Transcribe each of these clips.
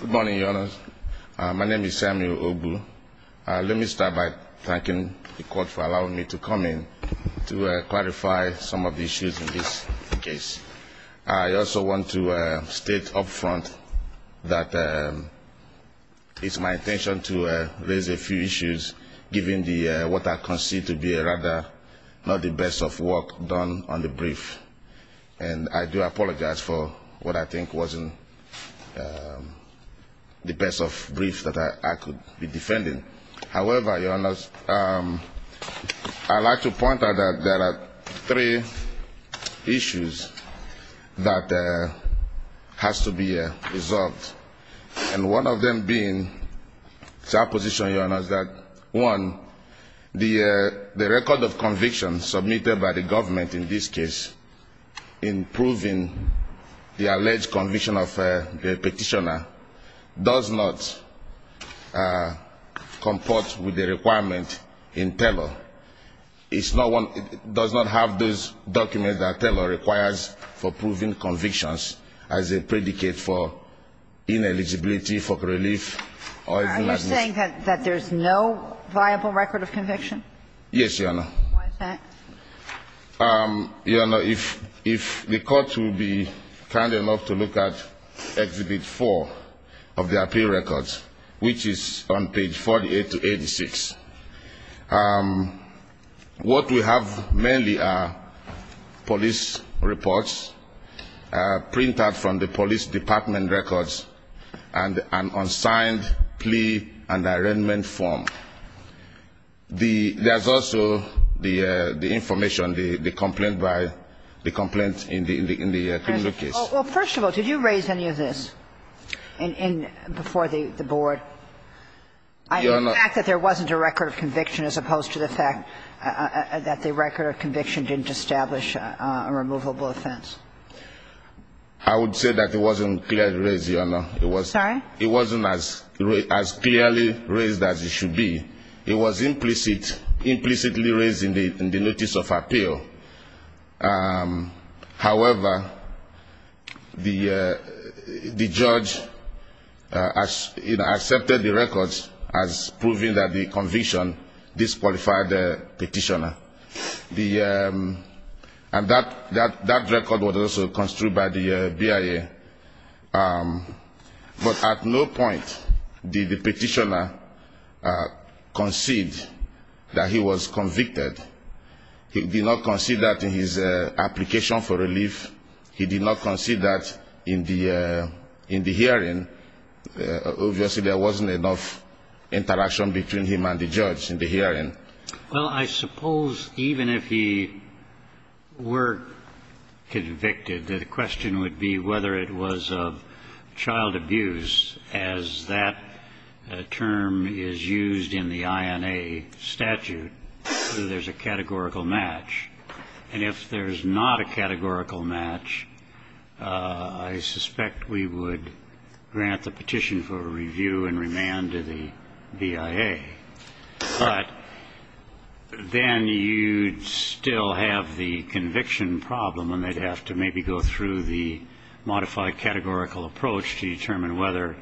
Good morning, Your Honor. My name is Samuel Ogbu. Let me start by thanking the court for allowing me to come in to clarify some of the issues in this case. I also want to state up front that it's my intention to raise a few issues, given what I concede to be rather not the best of work done on the brief. And I do apologize for what I think wasn't the best of briefs that I could be defending. However, Your Honor, I'd like to point out that there are three issues that has to be resolved. And one of them being, it's our position, Your Honor, is that, one, the record of conviction submitted by the government in this case in proving the alleged conviction of the petitioner does not comport with the requirement in Taylor. It's not one – it does not have those documents that Taylor requires for proving convictions as a predicate for ineligibility, for relief, or even admission. Are you saying that there's no viable record of conviction? Yes, Your Honor. Why is that? Your Honor, if the court will be kind enough to look at Exhibit 4 of the appeal records, which is on page 48 to 86, what we have mainly are police reports printed from the police department records and an unsigned plea and arraignment form. There's also the information, the complaint in the criminal case. Well, first of all, did you raise any of this before the board? Your Honor. The fact that there wasn't a record of conviction as opposed to the fact that the record of conviction didn't establish a removable offense. I would say that it wasn't clearly raised, Your Honor. Sorry? It wasn't as clearly raised as it should be. It was implicitly raised in the notice of appeal. However, the judge accepted the records as proving that the conviction disqualified the petitioner. And that record was also construed by the BIA. But at no point did the petitioner concede that he was convicted. He did not concede that in his application for relief. He did not concede that in the hearing. Obviously, there wasn't enough interaction between him and the judge in the hearing. Well, I suppose even if he were convicted, the question would be whether it was of child abuse, as that term is used in the INA statute, whether there's a categorical match. And if there's not a categorical match, I suspect we would grant the petition for review and remand to the BIA. But then you'd still have the conviction problem, and they'd have to maybe go through the modified categorical approach to determine whether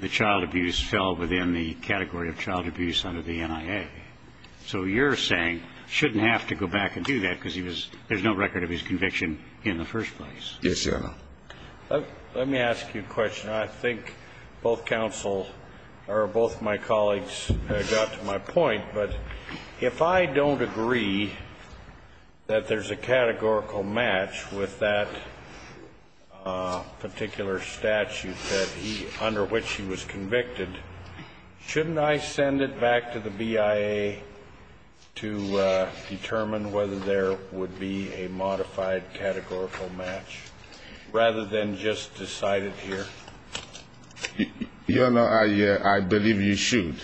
the child abuse fell within the category of child abuse under the NIA. So you're saying he shouldn't have to go back and do that because there's no record of his conviction in the first place. Yes, Your Honor. Let me ask you a question. I think both counsel or both my colleagues got to my point, but if I don't agree that there's a categorical match with that particular statute under which he was convicted, shouldn't I send it back to the BIA to determine whether there would be a modified categorical match rather than just decide it here? Your Honor, I believe you should.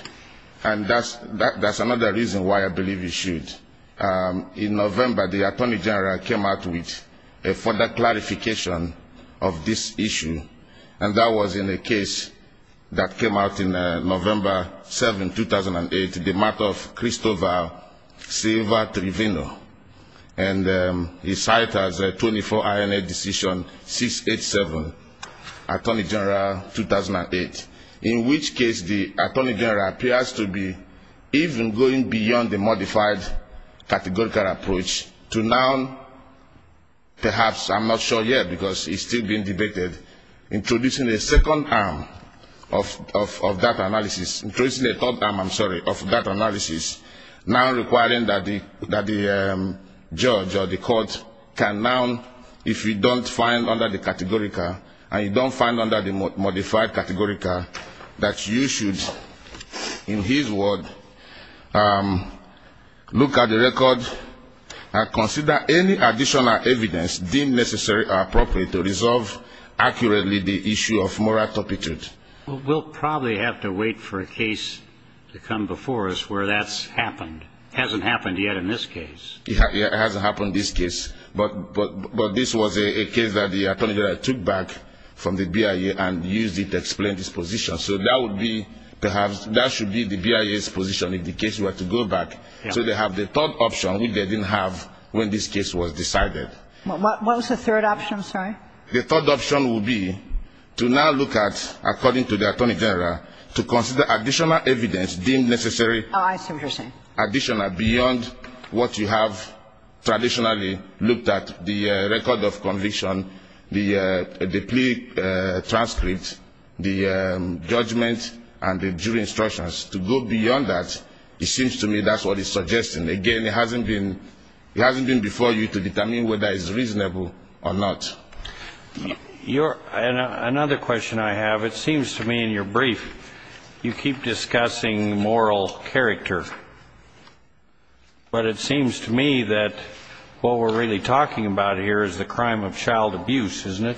And that's another reason why I believe you should. In November, the attorney general came out with a further clarification of this issue, and that was in a case that came out in November 7, 2008, the matter of Christopher Silva Trevino. And he cited as a 24-INA decision 687, Attorney General 2008, in which case the attorney general appears to be even going beyond the modified categorical approach to now perhaps, I'm not sure yet because it's still being debated, introducing a second arm of that analysis, introducing a third arm, I'm sorry, of that analysis, now requiring that the judge or the court can now, if you don't find under the categorical and you don't find under the modified categorical, that you should, in his word, look at the record and consider any additional evidence deemed necessary or appropriate to resolve accurately the issue of moral turpitude. We'll probably have to wait for a case to come before us where that's happened. It hasn't happened yet in this case. It hasn't happened in this case. But this was a case that the attorney general took back from the BIA and used it to explain his position. So that would be perhaps, that should be the BIA's position if the case were to go back. So they have the third option which they didn't have when this case was decided. What was the third option, I'm sorry? The third option would be to now look at, according to the attorney general, to consider additional evidence deemed necessary, additional beyond what you have traditionally looked at, the record of conviction, the plea transcript, the judgment, and the jury instructions. To go beyond that, it seems to me that's what he's suggesting. Again, it hasn't been before you to determine whether it's reasonable or not. Another question I have, it seems to me in your brief you keep discussing moral character. But it seems to me that what we're really talking about here is the crime of child abuse, isn't it?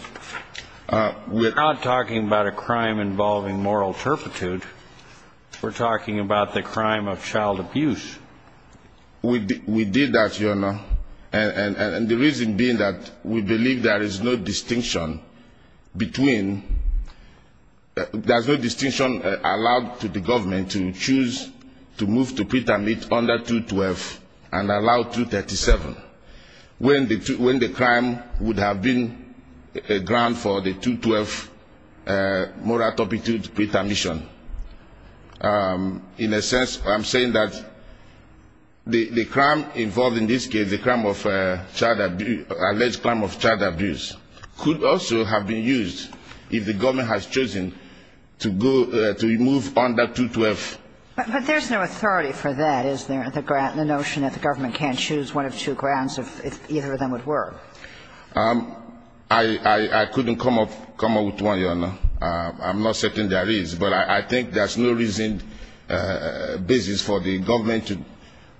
We're not talking about a crime involving moral turpitude. We're talking about the crime of child abuse. We did that, Your Honor. And the reason being that we believe there is no distinction between, there's no distinction allowed to the government to choose to move to pretermit under 212 and allow 237. When the crime would have been a ground for the 212 moral turpitude pretermission. In a sense, I'm saying that the crime involved in this case, the crime of child abuse, alleged crime of child abuse, could also have been used if the government has chosen to go, to move under 212. But there's no authority for that, is there, the notion that the government can't choose one of two grounds if either of them would work? I couldn't come up with one, Your Honor. I'm not certain there is. But I think there's no reason, basis for the government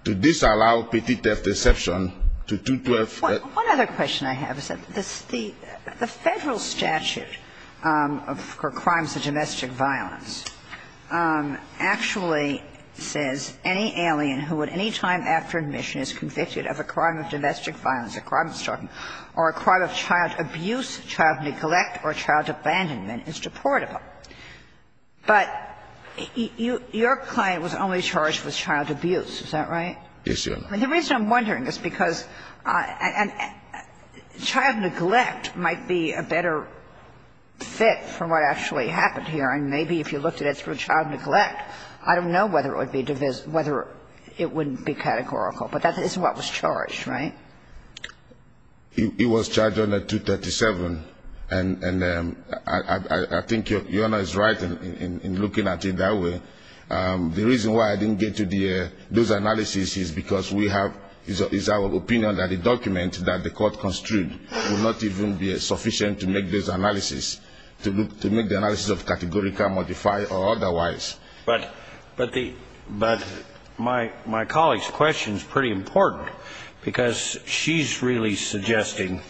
to disallow petty theft exception to 212. One other question I have is that the Federal statute for crimes of domestic violence actually says any alien who at any time after admission is convicted of a crime of domestic violence, a crime of child abuse, child neglect or child abandonment is deportable. But your client was only charged with child abuse. Is that right? Yes, Your Honor. The reason I'm wondering is because child neglect might be a better fit for what actually happened here. And maybe if you looked at it through child neglect, I don't know whether it would be categorical. But that is what was charged, right? It was charged under 237. And I think Your Honor is right in looking at it that way. The reason why I didn't get to those analyses is because we have, it's our opinion that the document that the court construed would not even be sufficient to make those analyses, to make the analyses of categorical, modified or otherwise. But my colleague's question is pretty important because she's really suggesting,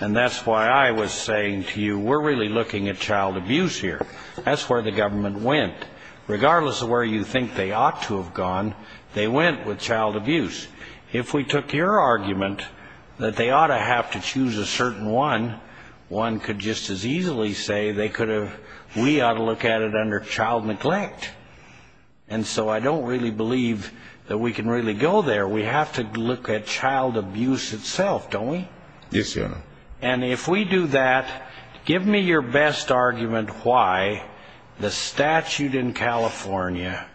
and that's why I was saying to you we're really looking at child abuse here. That's where the government went. Regardless of where you think they ought to have gone, they went with child abuse. If we took your argument that they ought to have to choose a certain one, one could just as easily say they could have, we ought to look at it under child neglect. And so I don't really believe that we can really go there. We have to look at child abuse itself, don't we? Yes, Your Honor. And if we do that, give me your best argument why the statute in California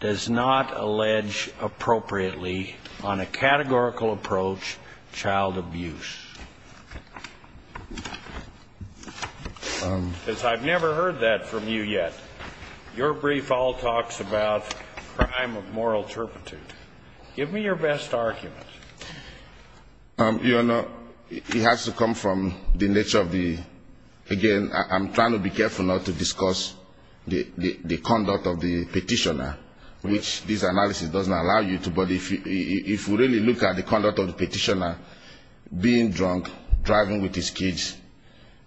does not allege appropriately on a categorical approach child abuse. Because I've never heard that from you yet. Your brief all talks about crime of moral turpitude. Give me your best argument. Your Honor, it has to come from the nature of the, again, I'm trying to be careful not to discuss the conduct of the petitioner, which this analysis doesn't allow you to. But if we really look at the conduct of the petitioner being drunk, driving with his kids,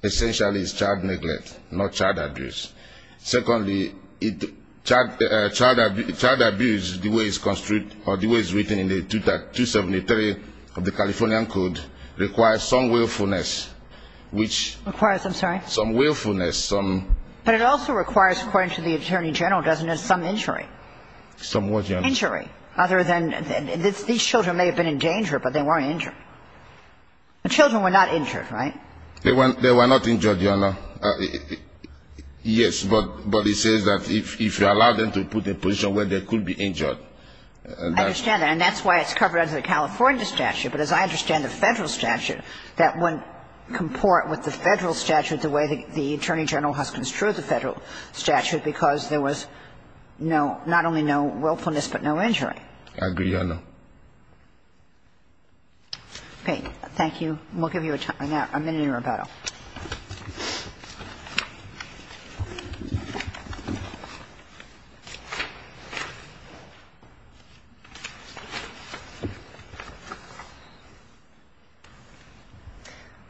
essentially it's child neglect, not child abuse. Secondly, child abuse, the way it's written in the 273 of the Californian Code, requires some willfulness. Requires, I'm sorry? Some willfulness. But it also requires, according to the Attorney General, doesn't it, some injury? Some what, Your Honor? Injury. Other than these children may have been in danger, but they weren't injured. The children were not injured, right? They were not injured, Your Honor. Yes. But it says that if you allow them to put in a position where they could be injured. I understand that. And that's why it's covered under the California statute. But as I understand the Federal statute, that wouldn't comport with the Federal statute the way the Attorney General has construed the Federal statute, because there was not only no willfulness, but no injury. I agree, Your Honor. Okay. Thank you. And we'll give you a minute in rebuttal. Okay.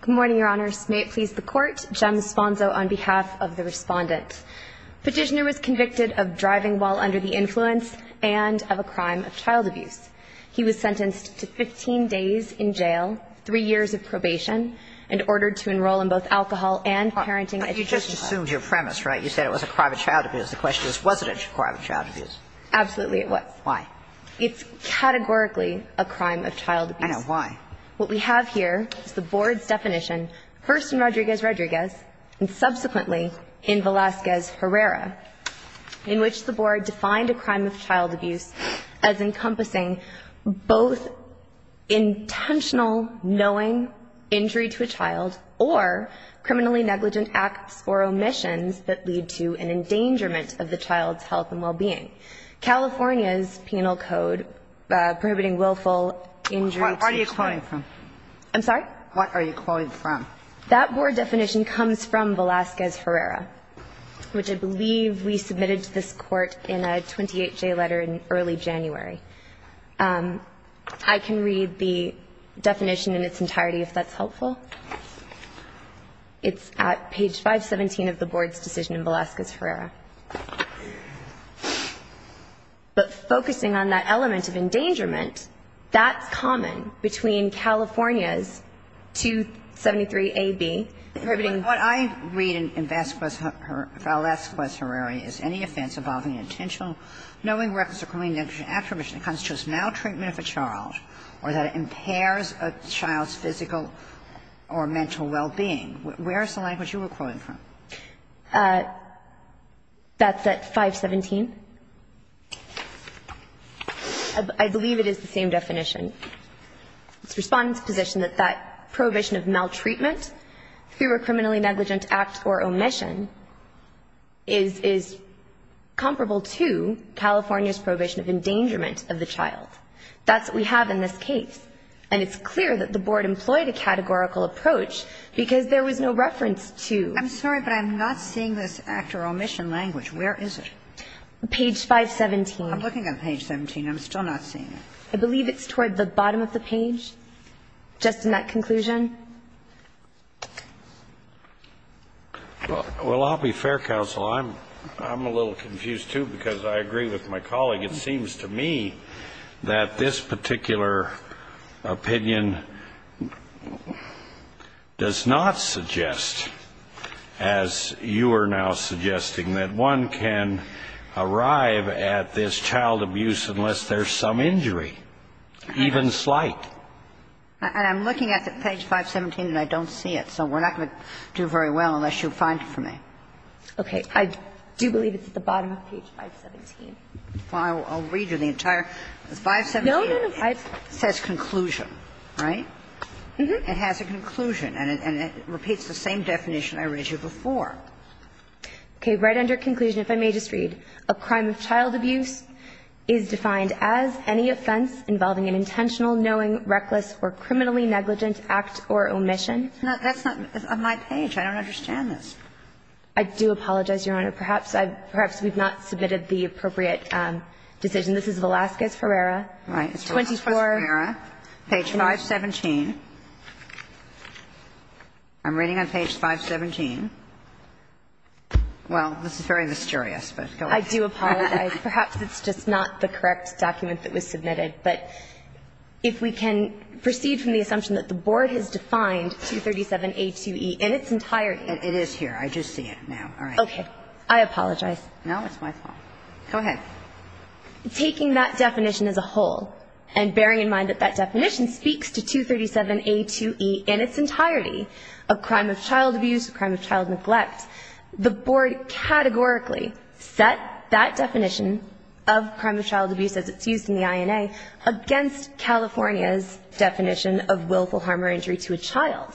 Good morning, Your Honors. May it please the Court. Jem Sponzo on behalf of the Respondent. Petitioner was convicted of driving while under the influence and of a crime of child abuse. He was sentenced to 15 days in jail, three years of probation, and ordered to enroll in both alcohol and parenting education. You just assumed your premise, right? You said it was a crime of child abuse. The question is, was it a crime of child abuse? Absolutely it was. Why? It's categorically a crime of child abuse. I know. Why? What we have here is the Board's definition, first in Rodriguez-Rodriguez, and subsequently in Velazquez-Herrera, in which the Board defined a crime of child abuse as encompassing both intentional knowing injury to a child or criminally negligent acts or omissions that lead to an endangerment of the child's health and well-being. California's penal code prohibiting willful injury to a child. What are you quoting from? I'm sorry? What are you quoting from? That Board definition comes from Velazquez-Herrera, which I believe we submitted to this Court in a 28-J letter in early January. I can read the definition in its entirety, if that's helpful. It's at page 517 of the Board's decision in Velazquez-Herrera. But focusing on that element of endangerment, that's common between California's 273a)(b), prohibiting ---- But what I read in Velazquez-Herrera is, knowing records of criminally negligent acts or omissions constitutes maltreatment of a child or that it impairs a child's physical or mental well-being. Where is the language you were quoting from? That's at 517. I believe it is the same definition. It's Respondent's position that that prohibition of maltreatment through a criminally negligent act or omission is comparable to California's prohibition of endangerment of the child. That's what we have in this case. And it's clear that the Board employed a categorical approach because there was no reference to ---- I'm sorry, but I'm not seeing this act or omission language. Where is it? Page 517. I'm looking at page 17. I'm still not seeing it. I believe it's toward the bottom of the page, just in that conclusion. Well, I'll be fair, Counsel. I'm a little confused, too, because I agree with my colleague. It seems to me that this particular opinion does not suggest, as you are now suggesting, that one can arrive at this child abuse unless there's some injury, even slight. And I'm looking at page 517, and I don't see it. So we're not going to do very well unless you find it for me. Okay. I do believe it's at the bottom of page 517. Well, I'll read you the entire ---- No, no, no. 517 says conclusion, right? It has a conclusion, and it repeats the same definition I read you before. Okay. Right under conclusion, if I may just read, A crime of child abuse is defined as any offense involving an intentional, knowing, reckless, or criminally negligent act or omission. That's not on my page. I don't understand this. I do apologize, Your Honor. Perhaps we've not submitted the appropriate decision. This is Velazquez-Ferreira. Right. It's Velazquez-Ferreira. Page 517. I'm reading on page 517. Well, this is very mysterious, but go ahead. I do apologize. Perhaps it's just not the correct document that was submitted, but if we can proceed from the assumption that the Board has defined 237a2e in its entirety. It is here. I just see it now. All right. Okay. I apologize. No, it's my fault. Go ahead. Taking that definition as a whole and bearing in mind that that definition speaks to 237a2e in its entirety of crime of child abuse, crime of child neglect, the Board categorically set that definition of crime of child abuse as it's used in the INA against California's definition of willful harm or injury to a child.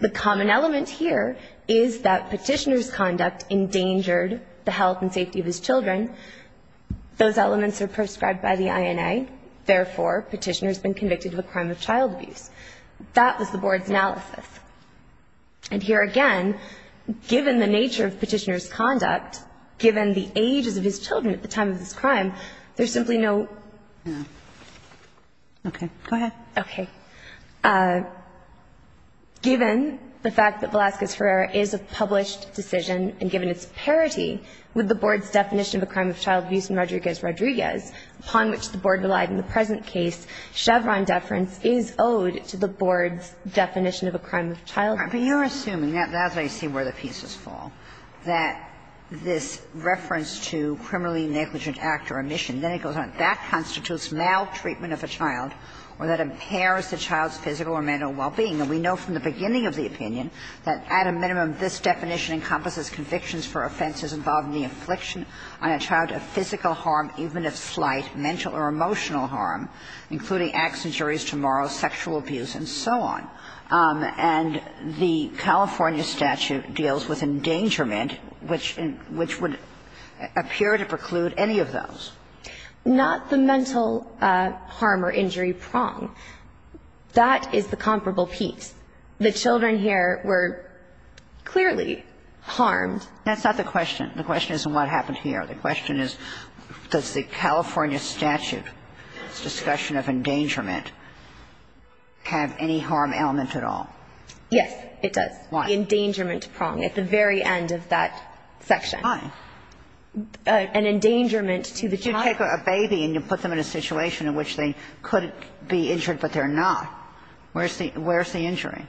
The common element here is that petitioner's conduct endangered the health and safety of his children. Those elements are prescribed by the INA. Therefore, petitioner has been convicted of a crime of child abuse. That was the Board's analysis. And here again, given the nature of petitioner's conduct, given the ages of his children at the time of this crime, there's simply no ---- No. Okay. Go ahead. Okay. Given the fact that Velazquez-Herrera is a published decision and given its parity with the Board's definition of a crime of child abuse in Rodriguez-Rodriguez, upon which the Board relied in the present case, Chevron deference is owed to the Board's definition of a crime of child abuse. But you're assuming, that's what I see where the pieces fall, that this reference to criminally negligent act or omission, then it goes on. That constitutes maltreatment of a child or that impairs the child's physical or mental well-being. And we know from the beginning of the opinion that, at a minimum, this definition encompasses convictions for offenses involving the affliction on a child of physical harm, even if slight, mental or emotional harm, including acts, injuries to morals, sexual abuse, and so on. And the California statute deals with endangerment, which would appear to preclude any of those. Not the mental harm or injury prong. That is the comparable piece. The children here were clearly harmed. That's not the question. The question isn't what happened here. The question is, does the California statute's discussion of endangerment have any harm element at all? Yes, it does. Why? The endangerment prong at the very end of that section. Why? An endangerment to the child. You take a baby and you put them in a situation in which they could be injured, but they're not. Where's the injury?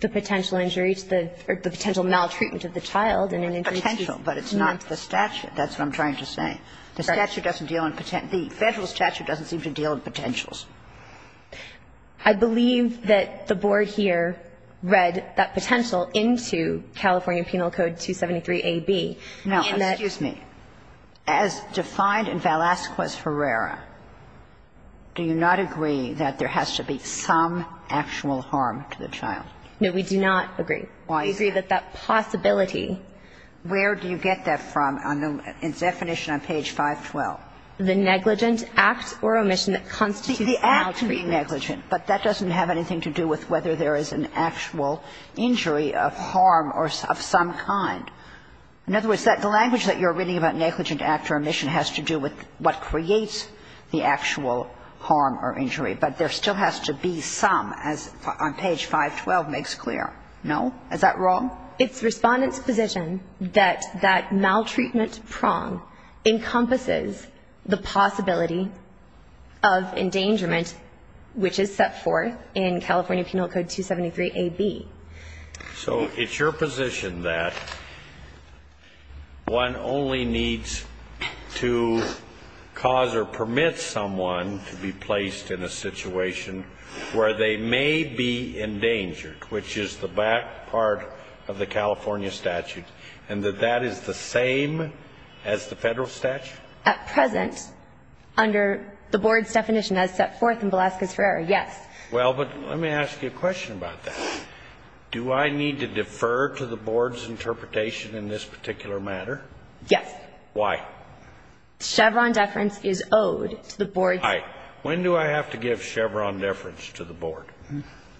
The potential injury to the or the potential maltreatment of the child in an injury to the child. Potential, but it's not the statute. That's what I'm trying to say. The statute doesn't deal in potential. The Federal statute doesn't seem to deal in potentials. I believe that the Board here read that potential into California Penal Code 273a)(b). Now, excuse me. As defined in Velazquez-Herrera, do you not agree that there has to be some actual harm to the child? No, we do not agree. Why is that? We agree that that possibility. Where do you get that from in definition on page 512? The negligent act or omission that constitutes maltreatment. The act can be negligent, but that doesn't have anything to do with whether there is an actual injury of harm of some kind. In other words, the language that you're reading about negligent act or omission has to do with what creates the actual harm or injury, but there still has to be some, as on page 512 makes clear. No? Is that wrong? It's Respondent's position that that maltreatment prong encompasses the possibility of endangerment, which is set forth in California Penal Code 273a)(b). So it's your position that one only needs to cause or permit someone to be placed in a situation where they may be endangered, which is the back part of the California statute, and that that is the same as the federal statute? At present, under the board's definition, as set forth in Velazquez-Herrera, yes. Well, but let me ask you a question about that. Do I need to defer to the board's interpretation in this particular matter? Yes. Why? Chevron deference is owed to the board. All right. When do I have to give Chevron deference to the board?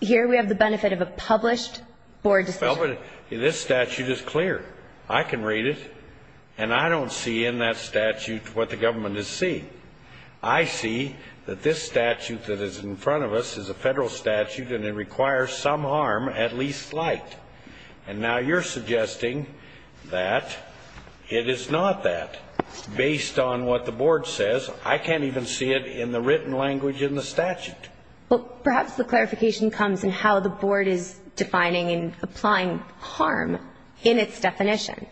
Here we have the benefit of a published board decision. Well, but this statute is clear. I can read it, and I don't see in that statute what the government is seeing. I see that this statute that is in front of us is a federal statute, and it requires some harm, at least slight. And now you're suggesting that it is not that, based on what the board says. I can't even see it in the written language in the statute. Well, perhaps the clarification comes in how the board is defining and applying harm in its definition.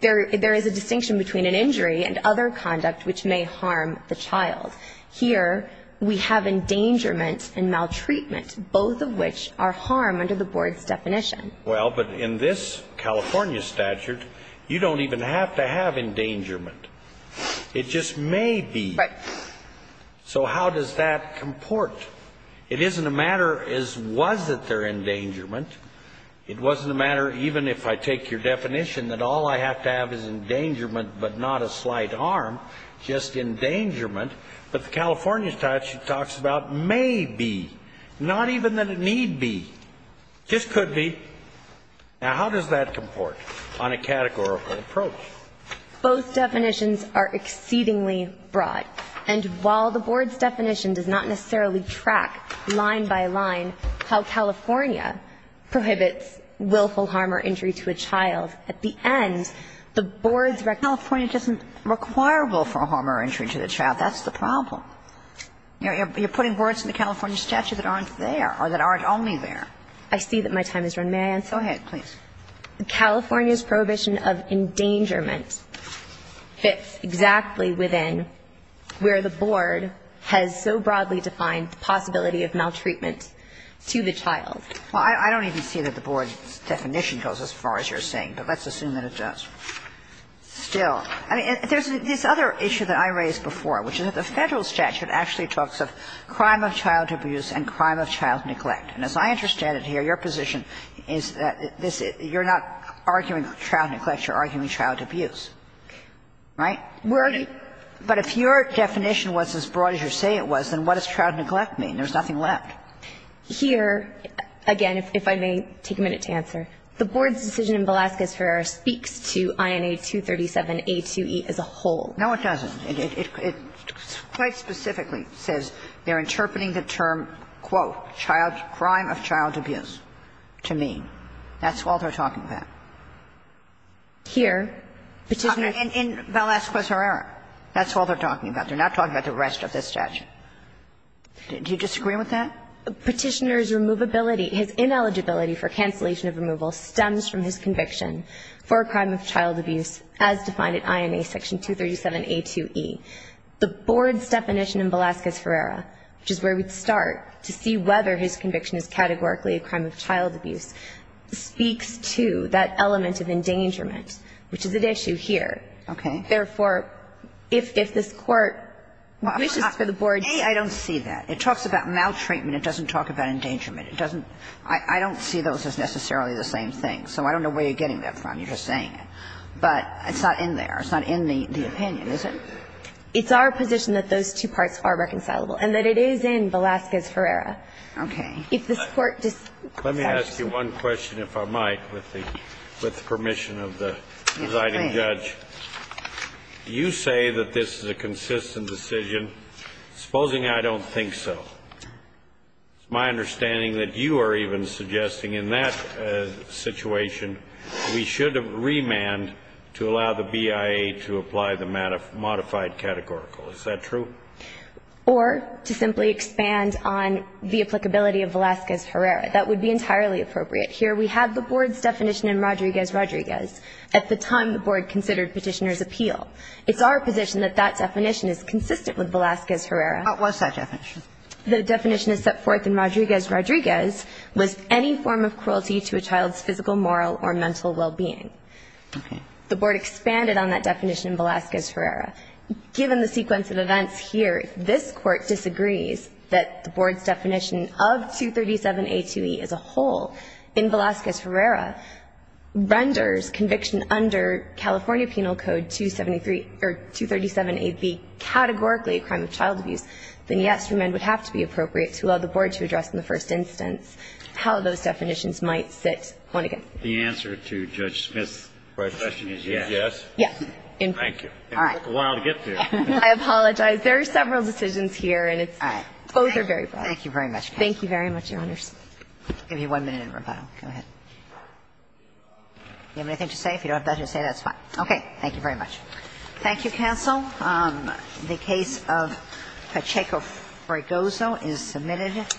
There is a distinction between an injury and other conduct which may harm the child. Here we have endangerment and maltreatment, both of which are harm under the board's definition. Well, but in this California statute, you don't even have to have endangerment. It just may be. Right. So how does that comport? It isn't a matter as was it their endangerment. It wasn't a matter, even if I take your definition, that all I have to have is endangerment but not a slight harm, just endangerment. But the California statute talks about may be, not even that it need be. This could be. Now, how does that comport on a categorical approach? Both definitions are exceedingly broad. And while the board's definition does not necessarily track line by line how California prohibits willful harm or injury to a child, at the end, the board's recognition is that the California statute doesn't require willful harm or injury to the child. That's the problem. You're putting words in the California statute that aren't there or that aren't only there. I see that my time has run. May I answer? Go ahead, please. California's prohibition of endangerment fits exactly within where the board has so broadly defined the possibility of maltreatment to the child. Well, I don't even see that the board's definition goes as far as you're saying. But let's assume that it does. Still, I mean, there's this other issue that I raised before, which is that the Federal statute actually talks of crime of child abuse and crime of child neglect. And as I understand it here, your position is that you're not arguing child neglect. You're arguing child abuse, right? But if your definition was as broad as you say it was, then what does child neglect mean? There's nothing left. Here, again, if I may take a minute to answer. The board's decision in Velazquez-Herrera speaks to INA 237a2e as a whole. No, it doesn't. It quite specifically says they're interpreting the term, quote, crime of child abuse to mean. That's all they're talking about. Here, Petitioner ---- In Velazquez-Herrera. That's all they're talking about. They're not talking about the rest of this statute. Do you disagree with that? Petitioner's removability, his ineligibility for cancellation of removal stems from his conviction for a crime of child abuse as defined at INA 237a2e. The board's definition in Velazquez-Herrera, which is where we'd start to see whether his conviction is categorically a crime of child abuse, speaks to that element of endangerment, which is at issue here. Okay. Therefore, if this Court wishes for the board to ---- A, I don't see that. It talks about maltreatment. It doesn't talk about endangerment. It doesn't ---- I don't see those as necessarily the same thing. So I don't know where you're getting that from. You're just saying it. But it's not in there. It's not in the opinion, is it? It's our position that those two parts are reconcilable and that it is in Velazquez-Herrera. Okay. If this Court decides to ---- Let me ask you one question, if I might, with the permission of the presiding judge. Do you say that this is a consistent decision? Supposing I don't think so. It's my understanding that you are even suggesting in that situation we should remand to allow the BIA to apply the modified categorical. Is that true? Or to simply expand on the applicability of Velazquez-Herrera. That would be entirely appropriate. Here we have the board's definition in Rodriguez-Rodriguez at the time the board considered Petitioner's appeal. It's our position that that definition is consistent with Velazquez-Herrera. What's that definition? The definition is set forth in Rodriguez-Rodriguez was any form of cruelty to a child's physical, moral or mental well-being. Okay. The board expanded on that definition in Velazquez-Herrera. Given the sequence of events here, this Court disagrees that the board's definition of 237A2E as a whole in Velazquez-Herrera renders conviction under California Penal Code 273 or 237AB categorically a crime of child abuse, then yes, remand would have to be appropriate to allow the board to address in the first instance how those definitions might sit one against the other. The answer to Judge Smith's question is yes? Yes. Thank you. All right. It took a while to get there. I apologize. There are several decisions here, and it's both are very broad. Thank you very much. Thank you very much, Your Honors. I'll give you one minute in rebuttal. Go ahead. Do you have anything to say? If you don't have anything to say, that's fine. Okay. Thank you very much. Thank you, counsel. The case of Pacheco-Fragozo is submitted.